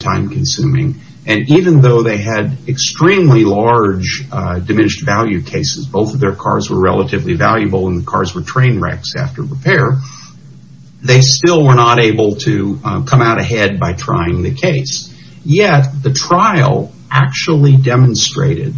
Trial of Van Tassel v. State Farm Mutual Insurance Co Time-consuming, and even though they had extremely large diminished value cases, both of their cars were relatively valuable and the cars were train wrecks after repair, they still were not able to come out ahead by trying the case. Yet, the trial actually demonstrated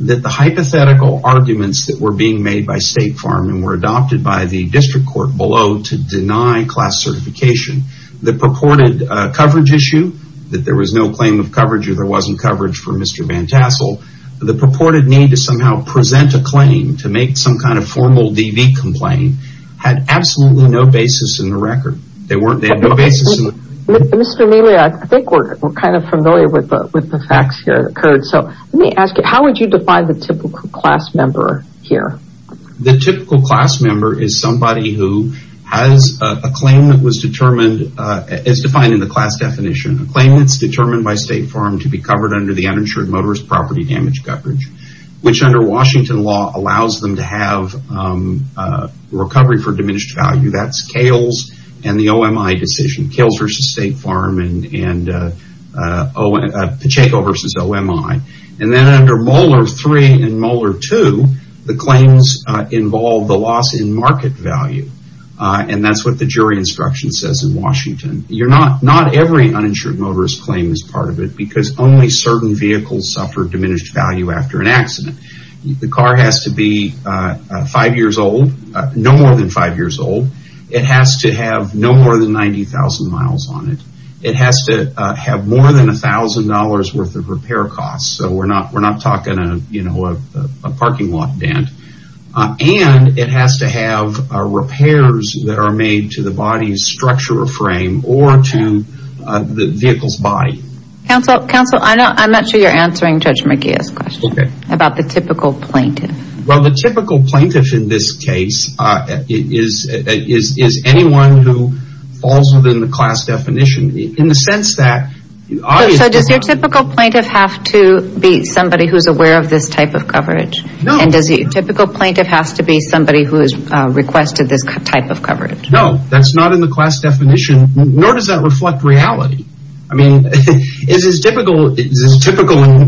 that the hypothetical arguments that were being made by State Farm and were adopted by the district court below to deny class certification, the purported coverage issue, that there was no claim of coverage or there wasn't coverage for Mr. Van Tassel, the purported need to somehow present a claim to make some kind of formal DV complaint had absolutely no basis in the record. Mr. Mealy, I think we're kind of familiar with the facts here. Let me ask you, how would you define the typical class member here? The typical class member is somebody who has a claim that was determined, as defined in the class definition, a claim that's determined by State Farm to be covered under the Uninsured Motorist Property Damage Coverage, which under Washington law allows them to have recovery for diminished value. That's Kales and the OMI decision, Kales v. State Farm and Pacheco v. OMI. And then under Molar 3 and Molar 2, the claims involve the loss in market value, and that's what the jury instruction says in Washington. Not every uninsured motorist claim is part of it, because only certain vehicles suffer diminished value after an accident. The car has to be five years old, no more than five years old. It has to have no more than 90,000 miles on it. It has to have more than $1,000 worth of repair costs, so we're not talking a parking lot dent. And it has to have repairs that are made to the body's structure or frame or to the vehicle's body. Counsel, I'm not sure you're answering Judge McGeough's question about the typical plaintiff. Well, the typical plaintiff in this case is anyone who falls within the class definition, in the sense that the audience... So does your typical plaintiff have to be somebody who's aware of this type of coverage? No. And does your typical plaintiff have to be somebody who has requested this type of coverage? No, that's not in the class definition, nor does that reflect reality. I mean, this is typical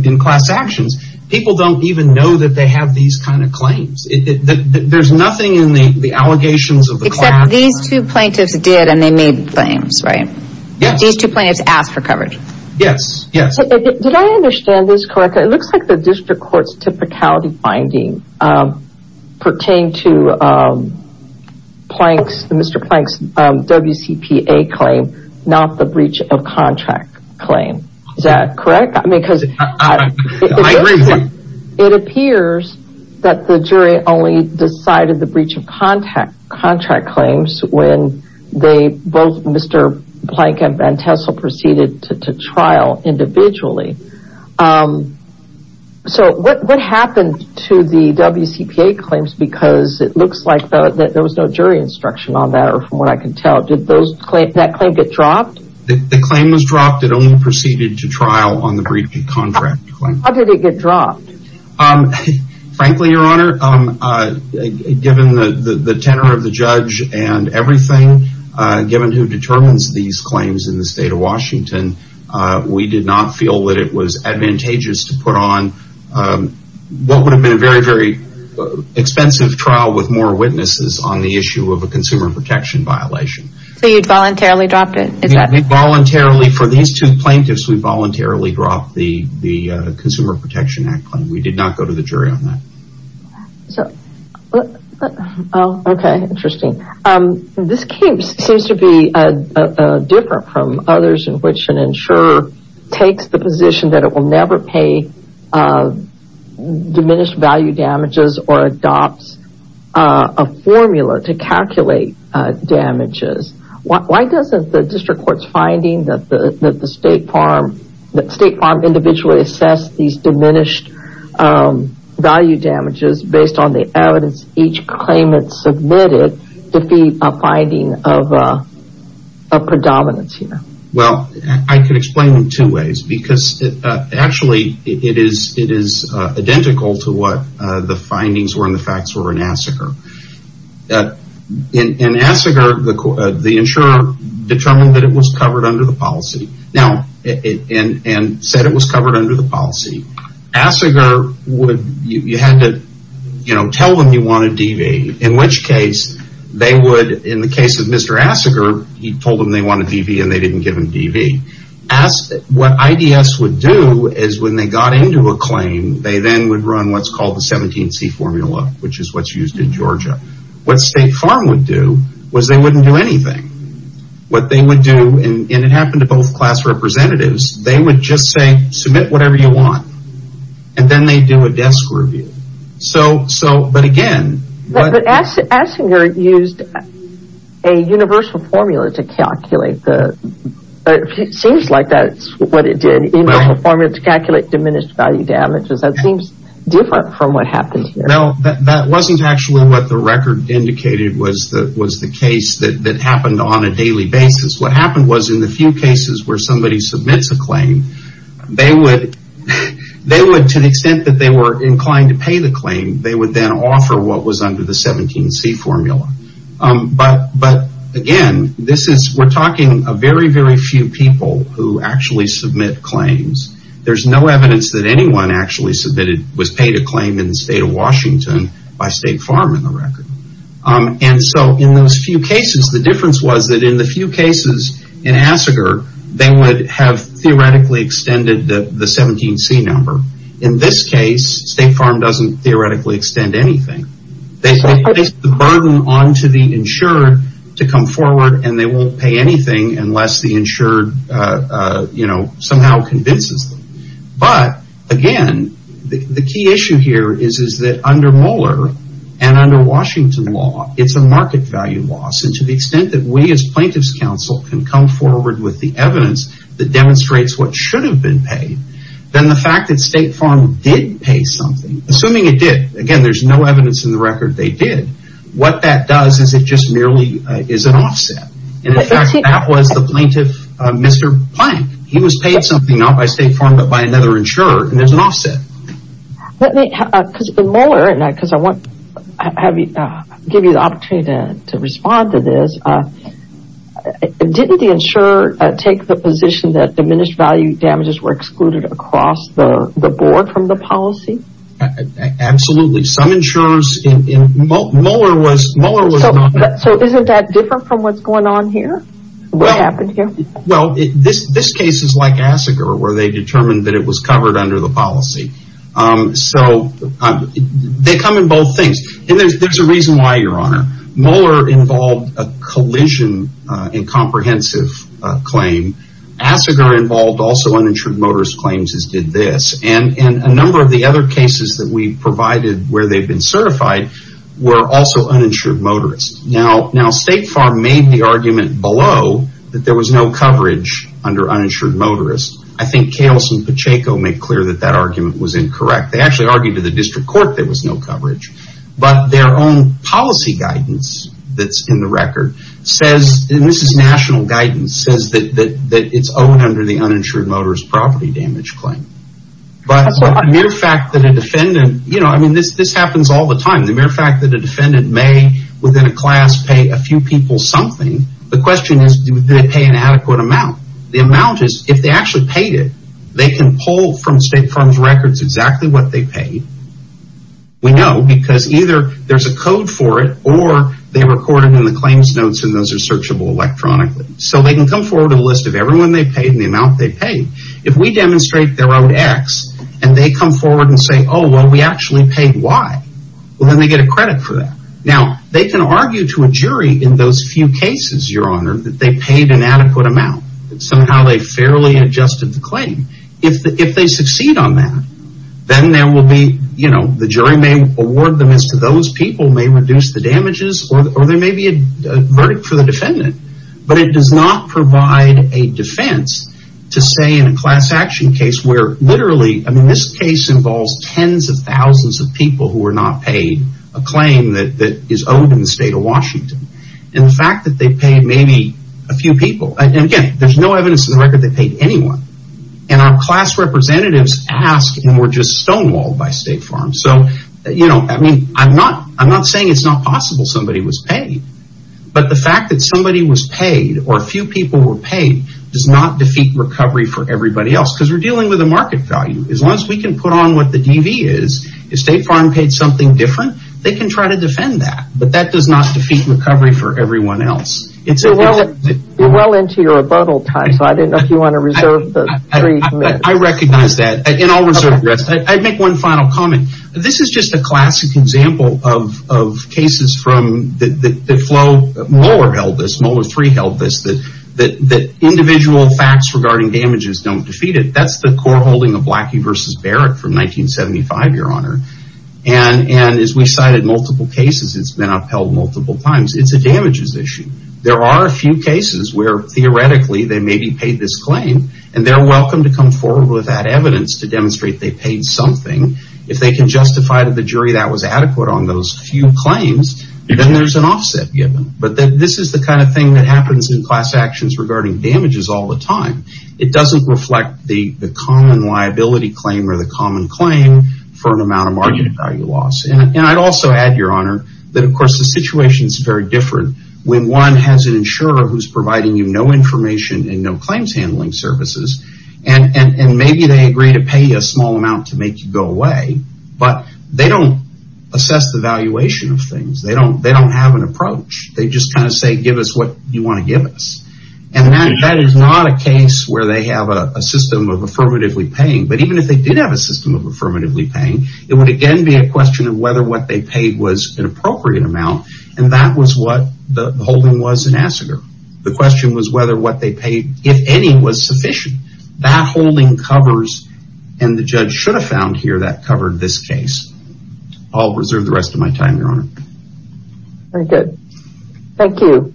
in class actions. People don't even know that they have these kind of claims. There's nothing in the allegations of the class. Except these two plaintiffs did, and they made claims, right? Yes. These two plaintiffs asked for coverage. Yes, yes. Did I understand this correctly? It looks like the district court's typicality finding pertained to Mr. Plank's WCPA claim, not the breach of contract claim. Is that correct? I mean, because it appears that the jury only decided the breach of contract claims when both Mr. Plank and Van Tessel proceeded to trial individually. So what happened to the WCPA claims? Because it looks like there was no jury instruction on that, or from what I can tell, did that claim get dropped? The claim was dropped. It only proceeded to trial on the breach of contract claim. How did it get dropped? Frankly, Your Honor, given the tenor of the judge and everything, given who determines these claims in the state of Washington, we did not feel that it was advantageous to put on what would have been a very, very expensive trial with more witnesses on the issue of a consumer protection violation. So you voluntarily dropped it? Voluntarily. For these two plaintiffs, we voluntarily dropped the Consumer Protection Act claim. We did not go to the jury on that. Okay, interesting. This case seems to be different from others in which an insurer takes the position that it will never pay diminished value damages or adopts a formula to calculate damages. Why doesn't the district court's finding that the State Farm individually assessed these diminished value damages based on the evidence each claimant submitted defeat a finding of predominance here? Well, I can explain in two ways. Actually, it is identical to what the findings were and the facts were in Assiger. In Assiger, the insurer determined that it was covered under the policy and said it was covered under the policy. Assiger, you had to tell them you wanted DV, in which case, they would, in the case of Mr. Assiger, he told them they wanted DV and they didn't give him DV. What IDS would do is when they got into a claim, they then would run what's called the 17C formula, which is what's used in Georgia. What State Farm would do was they wouldn't do anything. What they would do, and it happened to both class representatives, they would just say, submit whatever you want, and then they'd do a desk review. But again, what... But Assiger used a universal formula to calculate the... It seems like that's what it did. Universal formula to calculate diminished value damages. That seems different from what happens here. No, that wasn't actually what the record indicated was the case that happened on a daily basis. They would, to the extent that they were inclined to pay the claim, they would then offer what was under the 17C formula. But again, we're talking a very, very few people who actually submit claims. There's no evidence that anyone actually submitted, was paid a claim in the state of Washington by State Farm in the record. And so in those few cases, the difference was that in the few cases in Assiger, they would have theoretically extended the 17C number. In this case, State Farm doesn't theoretically extend anything. They place the burden onto the insured to come forward, and they won't pay anything unless the insured somehow convinces them. But again, the key issue here is that under Mueller and under Washington law, it's a market value loss. And to the extent that we as plaintiff's counsel can come forward with the evidence that demonstrates what should have been paid, then the fact that State Farm did pay something, assuming it did, again, there's no evidence in the record they did, what that does is it just merely is an offset. And in fact, that was the plaintiff, Mr. Plank. He was paid something not by State Farm but by another insurer, and there's an offset. In Mueller, because I want to give you the opportunity to respond to this, didn't the insurer take the position that diminished value damages were excluded across the board from the policy? Absolutely. Some insurers in Mueller was not. So isn't that different from what's going on here? What happened here? Well, this case is like Asseger where they determined that it was covered under the policy. So they come in both things. And there's a reason why, Your Honor. Mueller involved a collision in comprehensive claim. Asseger involved also uninsured motorist claims as did this. And a number of the other cases that we provided where they've been certified were also uninsured motorists. Now State Farm made the argument below that there was no coverage under uninsured motorists. I think Kales and Pacheco made clear that that argument was incorrect. They actually argued to the district court there was no coverage. But their own policy guidance that's in the record says, and this is national guidance, says that it's owed under the uninsured motorist property damage claim. But the mere fact that a defendant, you know, I mean, this happens all the time. The mere fact that a defendant may, within a class, pay a few people something, the question is, did they pay an adequate amount? The amount is, if they actually paid it, they can pull from State Farm's records exactly what they paid. We know because either there's a code for it or they record it in the claims notes and those are searchable electronically. So they can come forward with a list of everyone they paid and the amount they paid. If we demonstrate their own X and they come forward and say, Oh, well, we actually paid Y. Well, then they get a credit for that. Now, they can argue to a jury in those few cases, Your Honor, that they paid an adequate amount. Somehow they fairly adjusted the claim. If they succeed on that, then there will be, you know, the jury may award them as to those people may reduce the damages or there may be a verdict for the defendant. But it does not provide a defense to say in a class action case where literally, I mean, this case involves tens of thousands of people who were not paid a claim that is owed in the state of Washington. And the fact that they paid maybe a few people. And again, there's no evidence in the record they paid anyone. And our class representatives asked and were just stonewalled by State Farm. So, you know, I mean, I'm not saying it's not possible somebody was paid. But the fact that somebody was paid or a few people were paid does not defeat recovery for everybody else because we're dealing with a market value. As long as we can put on what the DV is, if State Farm paid something different, they can try to defend that. But that does not defeat recovery for everyone else. You're well into your rebuttal time, so I don't know if you want to reserve the three minutes. I recognize that. And I'll reserve the rest. I'd make one final comment. This is just a classic example of cases from the flow. Moller held this. Moller III held this. That individual facts regarding damages don't defeat it. That's the court holding of Blackie v. Barrett from 1975, Your Honor. And as we cited multiple cases, it's been upheld multiple times. It's a damages issue. There are a few cases where theoretically they maybe paid this claim. And they're welcome to come forward with that evidence to demonstrate they paid something. If they can justify to the jury that was adequate on those few claims, then there's an offset given. But this is the kind of thing that happens in class actions regarding damages all the time. It doesn't reflect the common liability claim or the common claim for an amount of margin of value loss. And I'd also add, Your Honor, that, of course, the situation is very different when one has an insurer who's providing you no information and no claims handling services, and maybe they agree to pay you a small amount to make you go away, but they don't assess the valuation of things. They don't have an approach. They just kind of say, give us what you want to give us. And that is not a case where they have a system of affirmatively paying. But even if they did have a system of affirmatively paying, it would again be a question of whether what they paid was an appropriate amount, and that was what the holding was in Asseger. The question was whether what they paid, if any, was sufficient. That holding covers, and the judge should have found here, that covered this case. I'll reserve the rest of my time, Your Honor. Very good. Thank you.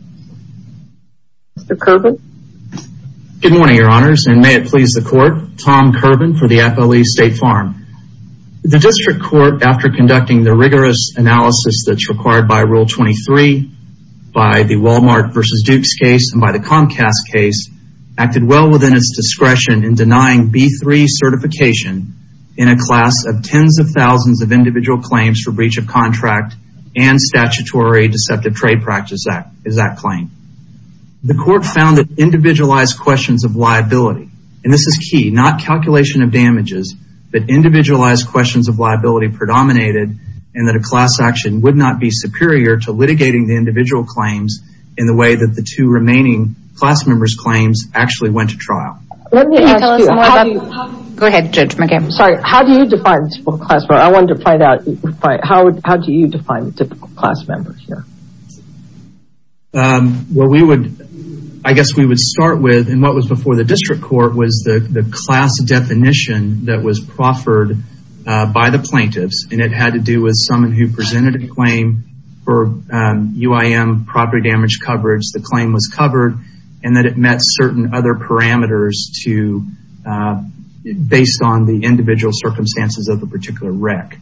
Mr. Kerbin? Good morning, Your Honors, and may it please the Court. Tom Kerbin for the FLE State Farm. The district court, after conducting the rigorous analysis that's required by Rule 23, by the Walmart v. Duke's case, and by the Comcast case, acted well within its discretion in denying B-3 certification in a class of tens of thousands of individual claims for breach of contract and statutory deceptive trade practice is that claim. The court found that individualized questions of liability, and this is key, not calculation of damages, but individualized questions of liability predominated and that a class action would not be superior to litigating the individual claims in the way that the two remaining class members' claims actually went to trial. Let me ask you. Go ahead, Judge McGammon. Sorry, how do you define a typical class member? I wanted to find out how do you define a typical class member here? Well, we would, I guess we would start with, and what was before the district court was the class definition that was proffered by the plaintiffs, and it had to do with someone who presented a claim for UIM property damage coverage, the claim was covered, and that it met certain other parameters to, based on the individual circumstances of the particular wreck.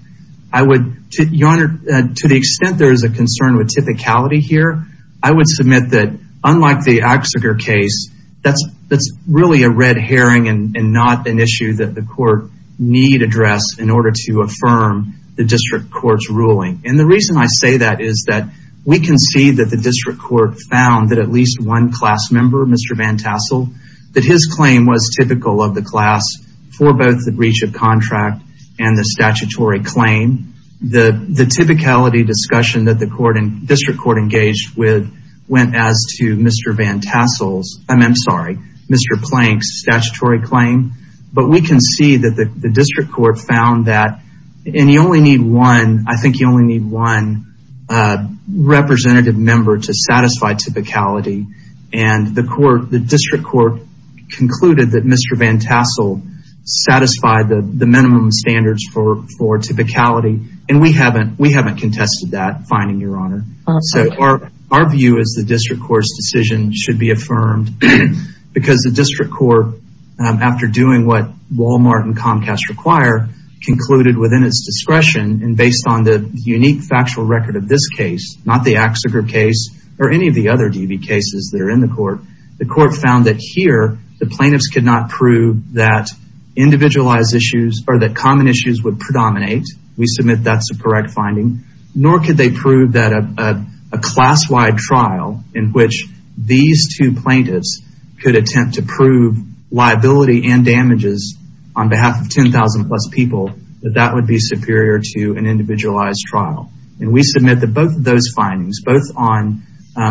I would, Your Honor, to the extent there is a concern with typicality here, I would submit that, unlike the Axiger case, that's really a red herring and not an issue that the court need address in order to affirm the district court's ruling. And the reason I say that is that we can see that the district court found that at least one class member, Mr. Van Tassel, that his claim was typical of the class for both the breach of contract and the statutory claim. The typicality discussion that the district court engaged with went as to Mr. Van Tassel's, I'm sorry, Mr. Plank's statutory claim. But we can see that the district court found that, and you only need one, I think you only need one representative member to satisfy typicality, and the district court concluded that Mr. Van Tassel satisfied the minimum standards for typicality, and we haven't contested that finding, Your Honor. Our view is the district court's decision should be affirmed because the district court, after doing what Walmart and Comcast require, concluded within its discretion and based on the unique factual record of this case, not the Axiger case or any of the other DV cases that are in the court, the court found that here the plaintiffs could not prove that individualized issues or that common issues would predominate. We submit that's a correct finding. Nor could they prove that a class-wide trial in which these two plaintiffs could attempt to prove liability and damages on behalf of 10,000 plus people, that that would be superior to an individualized trial. And we submit that both of those findings, both on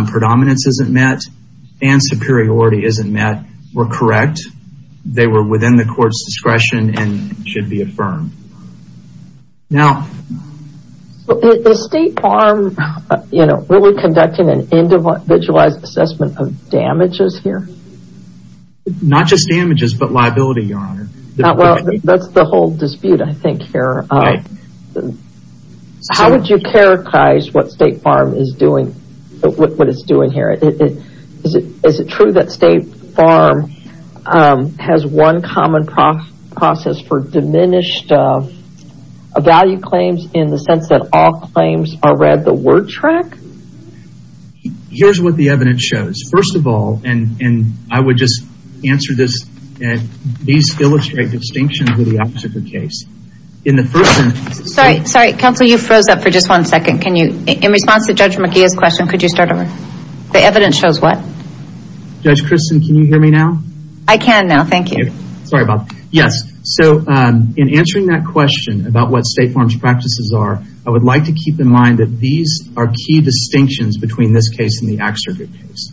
predominance isn't met and superiority isn't met, were correct. They were within the court's discretion and should be affirmed. Now... Is State Farm really conducting an individualized assessment of damages here? Not just damages, but liability, Your Honor. Well, that's the whole dispute, I think, here. How would you characterize what State Farm is doing, what it's doing here? Is it true that State Farm has one common process for diminished value claims in the sense that all claims are read the word track? Here's what the evidence shows. First of all, and I would just answer this, these illustrate distinctions with the Axiger case. Sorry, Counsel, you froze up for just one second. In response to Judge McGeeh's question, could you start over? The evidence shows what? Judge Christin, can you hear me now? I can now, thank you. Sorry, Bob. Yes, so in answering that question about what State Farm's practices are, I would like to keep in mind that these are key distinctions between this case and the Axiger case.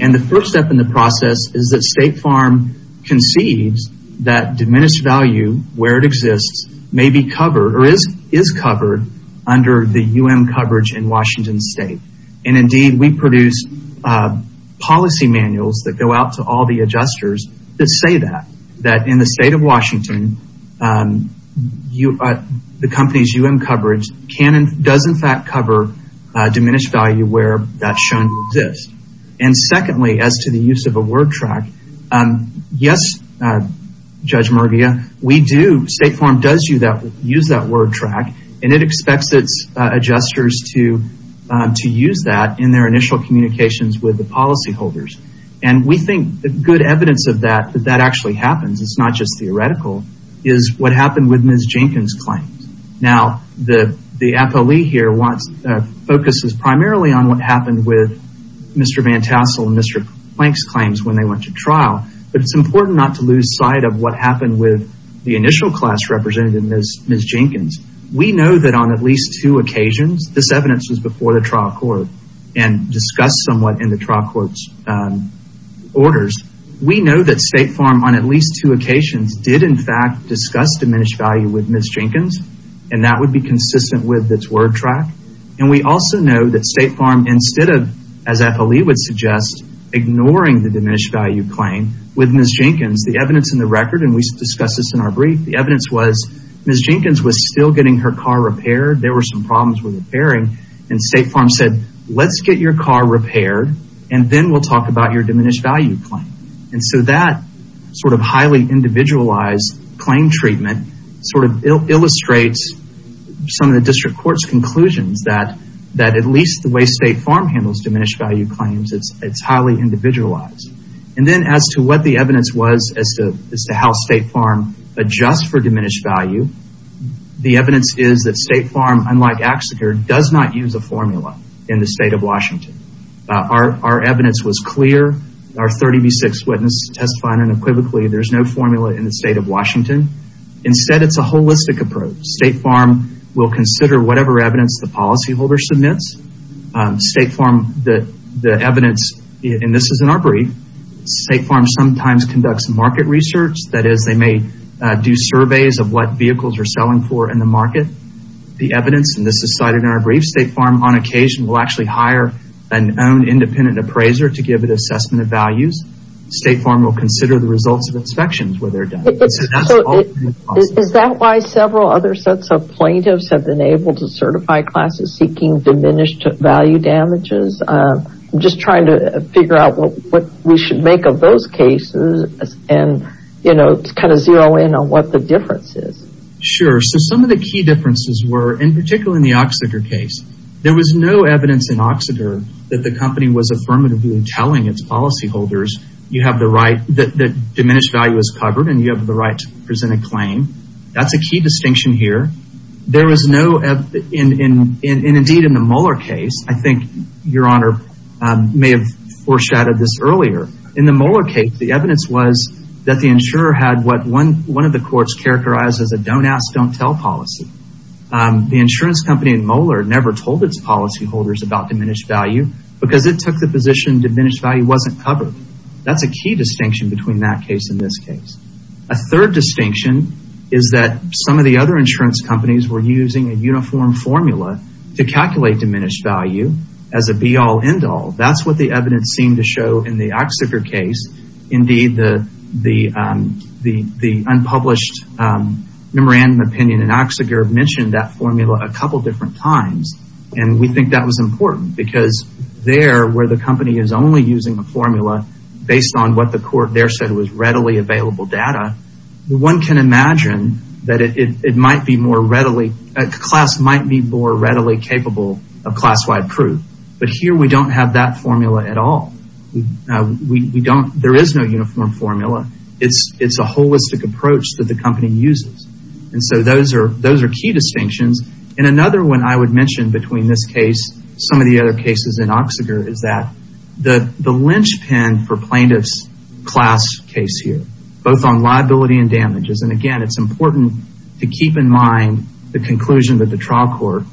And the first step in the process is that State Farm conceives that diminished value, where it exists, may be covered or is covered under the UM coverage in Washington State. And indeed, we produce policy manuals that go out to all the adjusters that say that, that in the state of Washington, the company's UM coverage does in fact cover diminished value where that's shown to exist. And secondly, as to the use of a word track, yes, Judge McGeeh, we do, State Farm does use that word track, and it expects its adjusters to use that in their initial communications with the policy holders. And we think good evidence of that, that that actually happens, it's not just theoretical, is what happened with Ms. Jenkins' claims. Now, the appellee here focuses primarily on what happened with Mr. Van Tassel and Mr. Plank's claims when they went to trial, but it's important not to lose sight of what happened with the initial class representative, Ms. Jenkins. We know that on at least two occasions, this evidence was before the trial court and discussed somewhat in the trial court's orders. We know that State Farm on at least two occasions did in fact discuss diminished value with Ms. Jenkins, and that would be consistent with its word track. And we also know that State Farm, instead of, as the appellee would suggest, ignoring the diminished value claim with Ms. Jenkins, the evidence in the record, and we discussed this in our brief, the evidence was Ms. Jenkins was still getting her car repaired, there were some problems with repairing, and State Farm said, let's get your car repaired and then we'll talk about your diminished value claim. And so that sort of highly individualized claim treatment sort of illustrates some of the district court's conclusions that at least the way State Farm handles diminished value claims, it's highly individualized. And then as to what the evidence was as to how State Farm adjusts for diminished value, the evidence is that State Farm, unlike AXSCR, does not use a formula in the state of Washington. Our evidence was clear. Our 30B6 witness testified unequivocally there's no formula in the state of Washington. Instead, it's a holistic approach. State Farm will consider whatever evidence the policyholder submits. State Farm, the evidence, and this is in our brief, State Farm sometimes conducts market research. That is, they may do surveys of what vehicles are selling for in the market. The evidence, and this is cited in our brief, State Farm on occasion will actually hire an own independent appraiser to give an assessment of values. State Farm will consider the results of inspections where they're done. Is that why several other sets of plaintiffs have been able to certify classes seeking diminished value damages? I'm just trying to figure out what we should make of those cases and kind of zero in on what the difference is. Sure, so some of the key differences were, in particular in the Oxnard case, there was no evidence in Oxnard that the company was affirmatively telling its policyholders that diminished value is covered and you have the right to present a claim. That's a key distinction here. There was no, and indeed in the Moeller case, I think Your Honor may have foreshadowed this earlier, in the Moeller case, the evidence was that the insurer had what one of the courts characterized as a don't ask, don't tell policy. The insurance company in Moeller never told its policyholders about diminished value because it took the position diminished value wasn't covered. That's a key distinction between that case and this case. A third distinction is that some of the other insurance companies were using a uniform formula to calculate diminished value as a be all, end all. That's what the evidence seemed to show in the Oxnard case. Indeed, the unpublished memorandum opinion in Oxnard mentioned that formula a couple different times and we think that was important because there, where the company is only using the formula based on what the court there said was readily available data, one can imagine that it might be more readily, a class might be more readily capable of class-wide proof. But here we don't have that formula at all. We don't, there is no uniform formula. It's a holistic approach that the company uses. And so those are key distinctions. And another one I would mention between this case, some of the other cases in Oxnard is that the linchpin for plaintiff's class case here, both on liability and damages, and again, it's important to keep in mind the conclusion that the trial court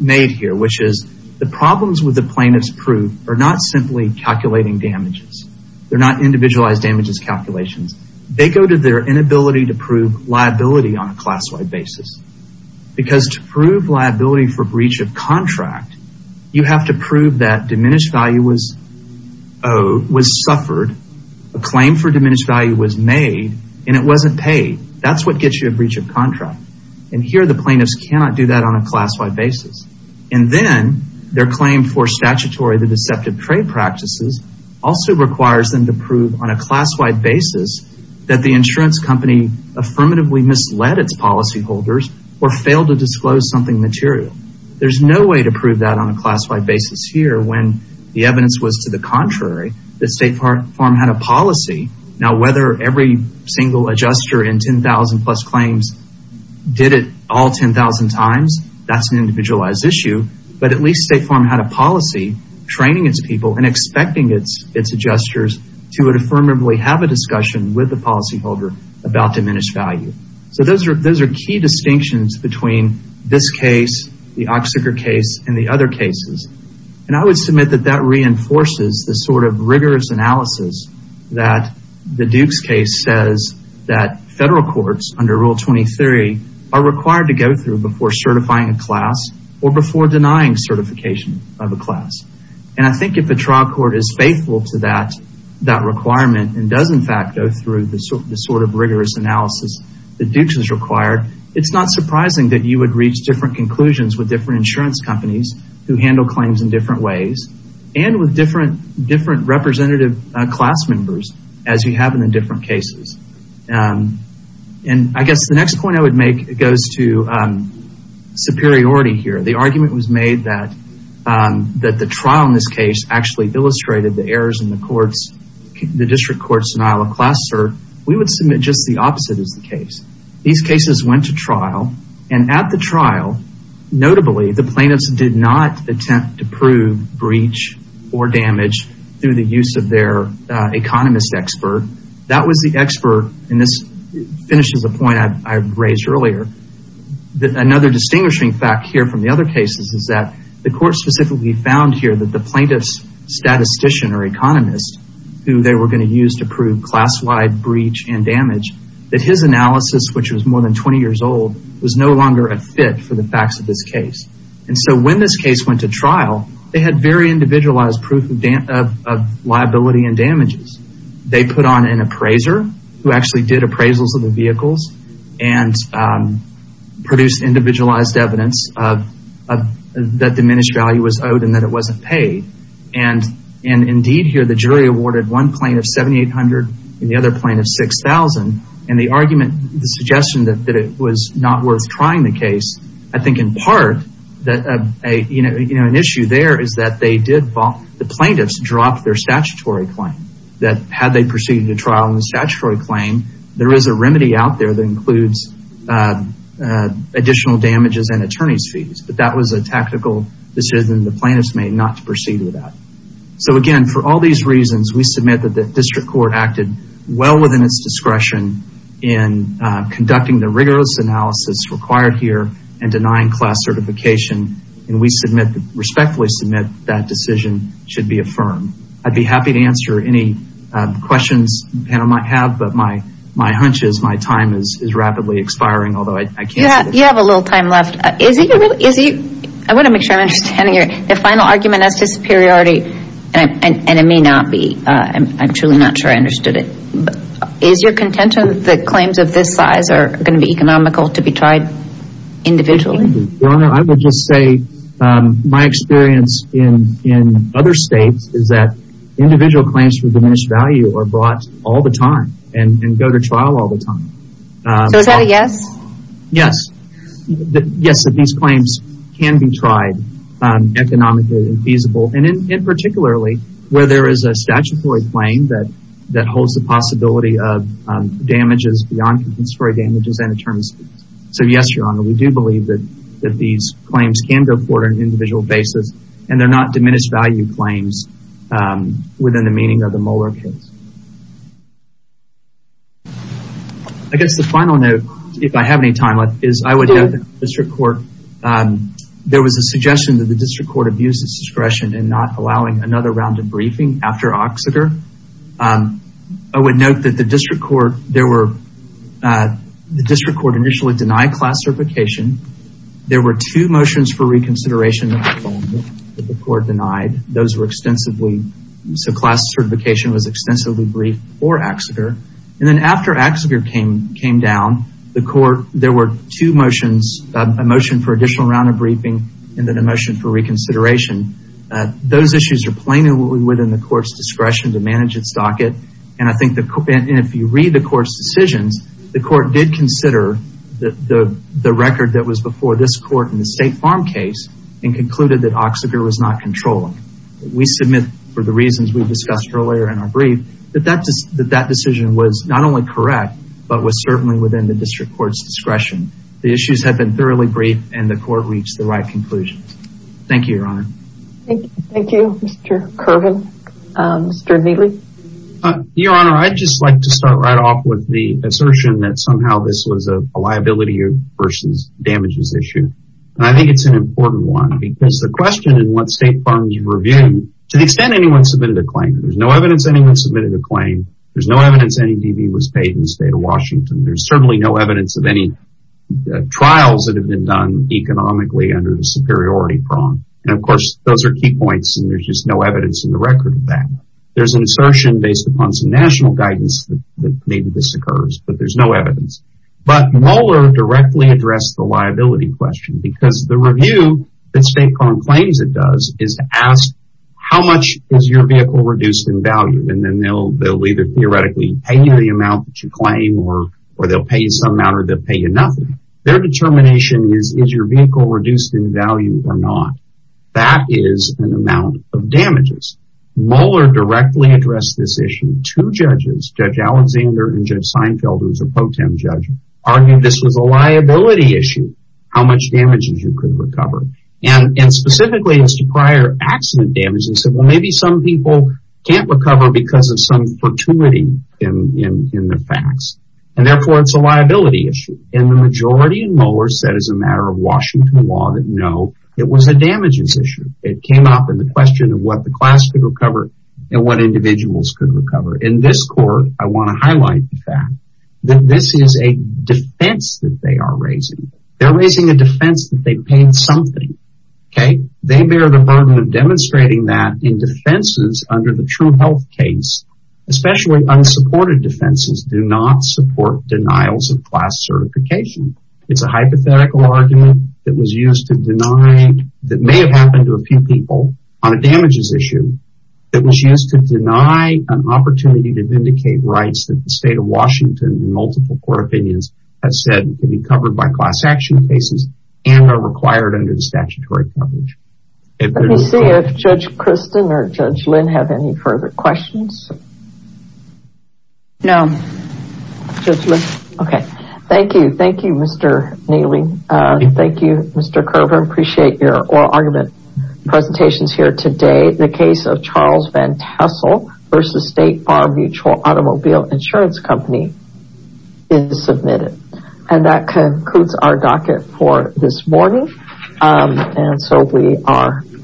made here, which is the problems with the plaintiff's proof are not simply calculating damages. They're not individualized damages calculations. They go to their inability to prove liability on a class-wide basis. Because to prove liability for breach of contract, you have to prove that diminished value was suffered, a claim for diminished value was made, and it wasn't paid. That's what gets you a breach of contract. And here the plaintiffs cannot do that on a class-wide basis. And then their claim for statutory, the deceptive trade practices, also requires them to prove on a class-wide basis that the insurance company affirmatively misled its policyholders or failed to disclose something material. There's no way to prove that on a class-wide basis here when the evidence was to the contrary, that State Farm had a policy. Now, whether every single adjuster in 10,000-plus claims did it all 10,000 times, that's an individualized issue. But at least State Farm had a policy training its people and expecting its adjusters to affirmatively have a discussion with the policyholder about diminished value. So those are key distinctions between this case, the Oxnard case, and the other cases. And I would submit that that reinforces the sort of rigorous analysis that the Dukes case says that federal courts under Rule 23 are required to go through before certifying a class or before denying certification of a class. And I think if a trial court is faithful to that requirement and does, in fact, go through the sort of rigorous analysis the Dukes is required, it's not surprising that you would reach different conclusions with different insurance companies who handle claims in different ways and with different representative class members as you have in the different cases. And I guess the next point I would make goes to superiority here. The argument was made that the trial in this case actually illustrated the errors in the district court's denial of class cert. We would submit just the opposite is the case. These cases went to trial, and at the trial, notably, the plaintiffs did not attempt to prove breach or damage through the use of their economist expert. That was the expert, and this finishes a point I raised earlier. Another distinguishing fact here from the other cases is that the court specifically found here that the plaintiff's statistician or economist who they were going to use to prove class-wide breach and damage, that his analysis, which was more than 20 years old, was no longer a fit for the facts of this case. And so when this case went to trial, they had very individualized proof of liability and damages. They put on an appraiser who actually did appraisals of the vehicles and produced individualized evidence that diminished value was owed and that it wasn't paid. And indeed here, the jury awarded one plaintiff 7,800 and the other plaintiff 6,000, and the argument, the suggestion that it was not worth trying the case, I think in part that an issue there is that they did fall. The plaintiffs dropped their statutory claim, that had they proceeded to trial on the statutory claim, there is a remedy out there that includes additional damages and attorney's fees. But that was a tactical decision the plaintiffs made not to proceed with that. So again, for all these reasons, we submit that the district court acted well within its discretion in conducting the rigorous analysis required here and denying class certification, and we respectfully submit that decision should be affirmed. I'd be happy to answer any questions the panel might have, but my hunch is my time is rapidly expiring, although I can't see it. You have a little time left. I want to make sure I'm understanding you. The final argument as to superiority, and it may not be, I'm truly not sure I understood it, is your contention that claims of this size are going to be economical to be tried individually? Your Honor, I would just say my experience in other states is that individual claims for diminished value are brought all the time and go to trial all the time. So is that a yes? Yes. Yes, that these claims can be tried economically and feasible, and particularly where there is a statutory claim that holds the possibility of damages beyond compensatory damages and attorney's fees. So yes, Your Honor, we do believe that these claims can go forward on an individual basis, and they're not diminished value claims within the meaning of the Mueller case. I guess the final note, if I have any time left, is I would have the district court. There was a suggestion that the district court abuse its discretion in not allowing another round of briefing after Oxeter. I would note that the district court initially denied class certification. There were two motions for reconsideration that the court denied. Those were extensively, so class certification was extensively briefed for Oxeter. And then after Oxeter came down, there were two motions, a motion for additional round of briefing and then a motion for reconsideration. Those issues are plainly within the court's discretion to manage its docket, and if you read the court's decisions, the court did consider the record that was before this court in the State Farm case and concluded that Oxeter was not controlling. We submit for the reasons we discussed earlier in our brief that that decision was not only correct, but was certainly within the district court's discretion. The issues have been thoroughly briefed, and the court reached the right conclusions. Thank you, Your Honor. Thank you, Mr. Curran. Mr. Neeley? Your Honor, I'd just like to start right off with the assertion that somehow this was a liability versus damages issue, and I think it's an important one because the question in what State Farm you reviewed, to the extent anyone submitted a claim, there's no evidence anyone submitted a claim, there's no evidence any DB was paid in the State of Washington, there's certainly no evidence of any trials that have been done economically under the superiority prong. And of course, those are key points, and there's just no evidence in the record of that. There's an assertion based upon some national guidance that maybe this occurs, but there's no evidence. But Moeller directly addressed the liability question because the review that State Farm claims it does is to ask how much is your vehicle reduced in value, and then they'll either theoretically pay you the amount that you claim or they'll pay you some amount or they'll pay you nothing. Their determination is, is your vehicle reduced in value or not? That is an amount of damages. Moeller directly addressed this issue to judges, Judge Alexander and Judge Seinfeld, who's a pro tem judge, arguing this was a liability issue, how much damages you could recover. And specifically as to prior accident damages, he said, well, maybe some people can't recover because of some fortuity in the facts, and therefore it's a liability issue. And the majority in Moeller said as a matter of Washington law that no, it was a damages issue. It came up in the question of what the class could recover and what individuals could recover. In this court, I want to highlight the fact that this is a defense that they are raising. They're raising a defense that they paid something, okay? They bear the burden of demonstrating that in defenses under the true health case, especially unsupported defenses do not support denials of class certification. It's a hypothetical argument that was used to deny, that may have happened to a few people on a damages issue, that was used to deny an opportunity to vindicate rights that the state of Washington and multiple court opinions have said can be covered by class action cases and are required under the statutory coverage. Let me see if Judge Kristen or Judge Lynn have any further questions. No. Judge Lynn? Okay. Thank you. Thank you, Mr. Neely. Thank you, Mr. Kroger. I appreciate your oral argument presentations here today. The case of Charles Van Tassel v. State Farm Mutual Automobile Insurance Company is submitted. And that concludes our docket for this morning. And so we are adjourned.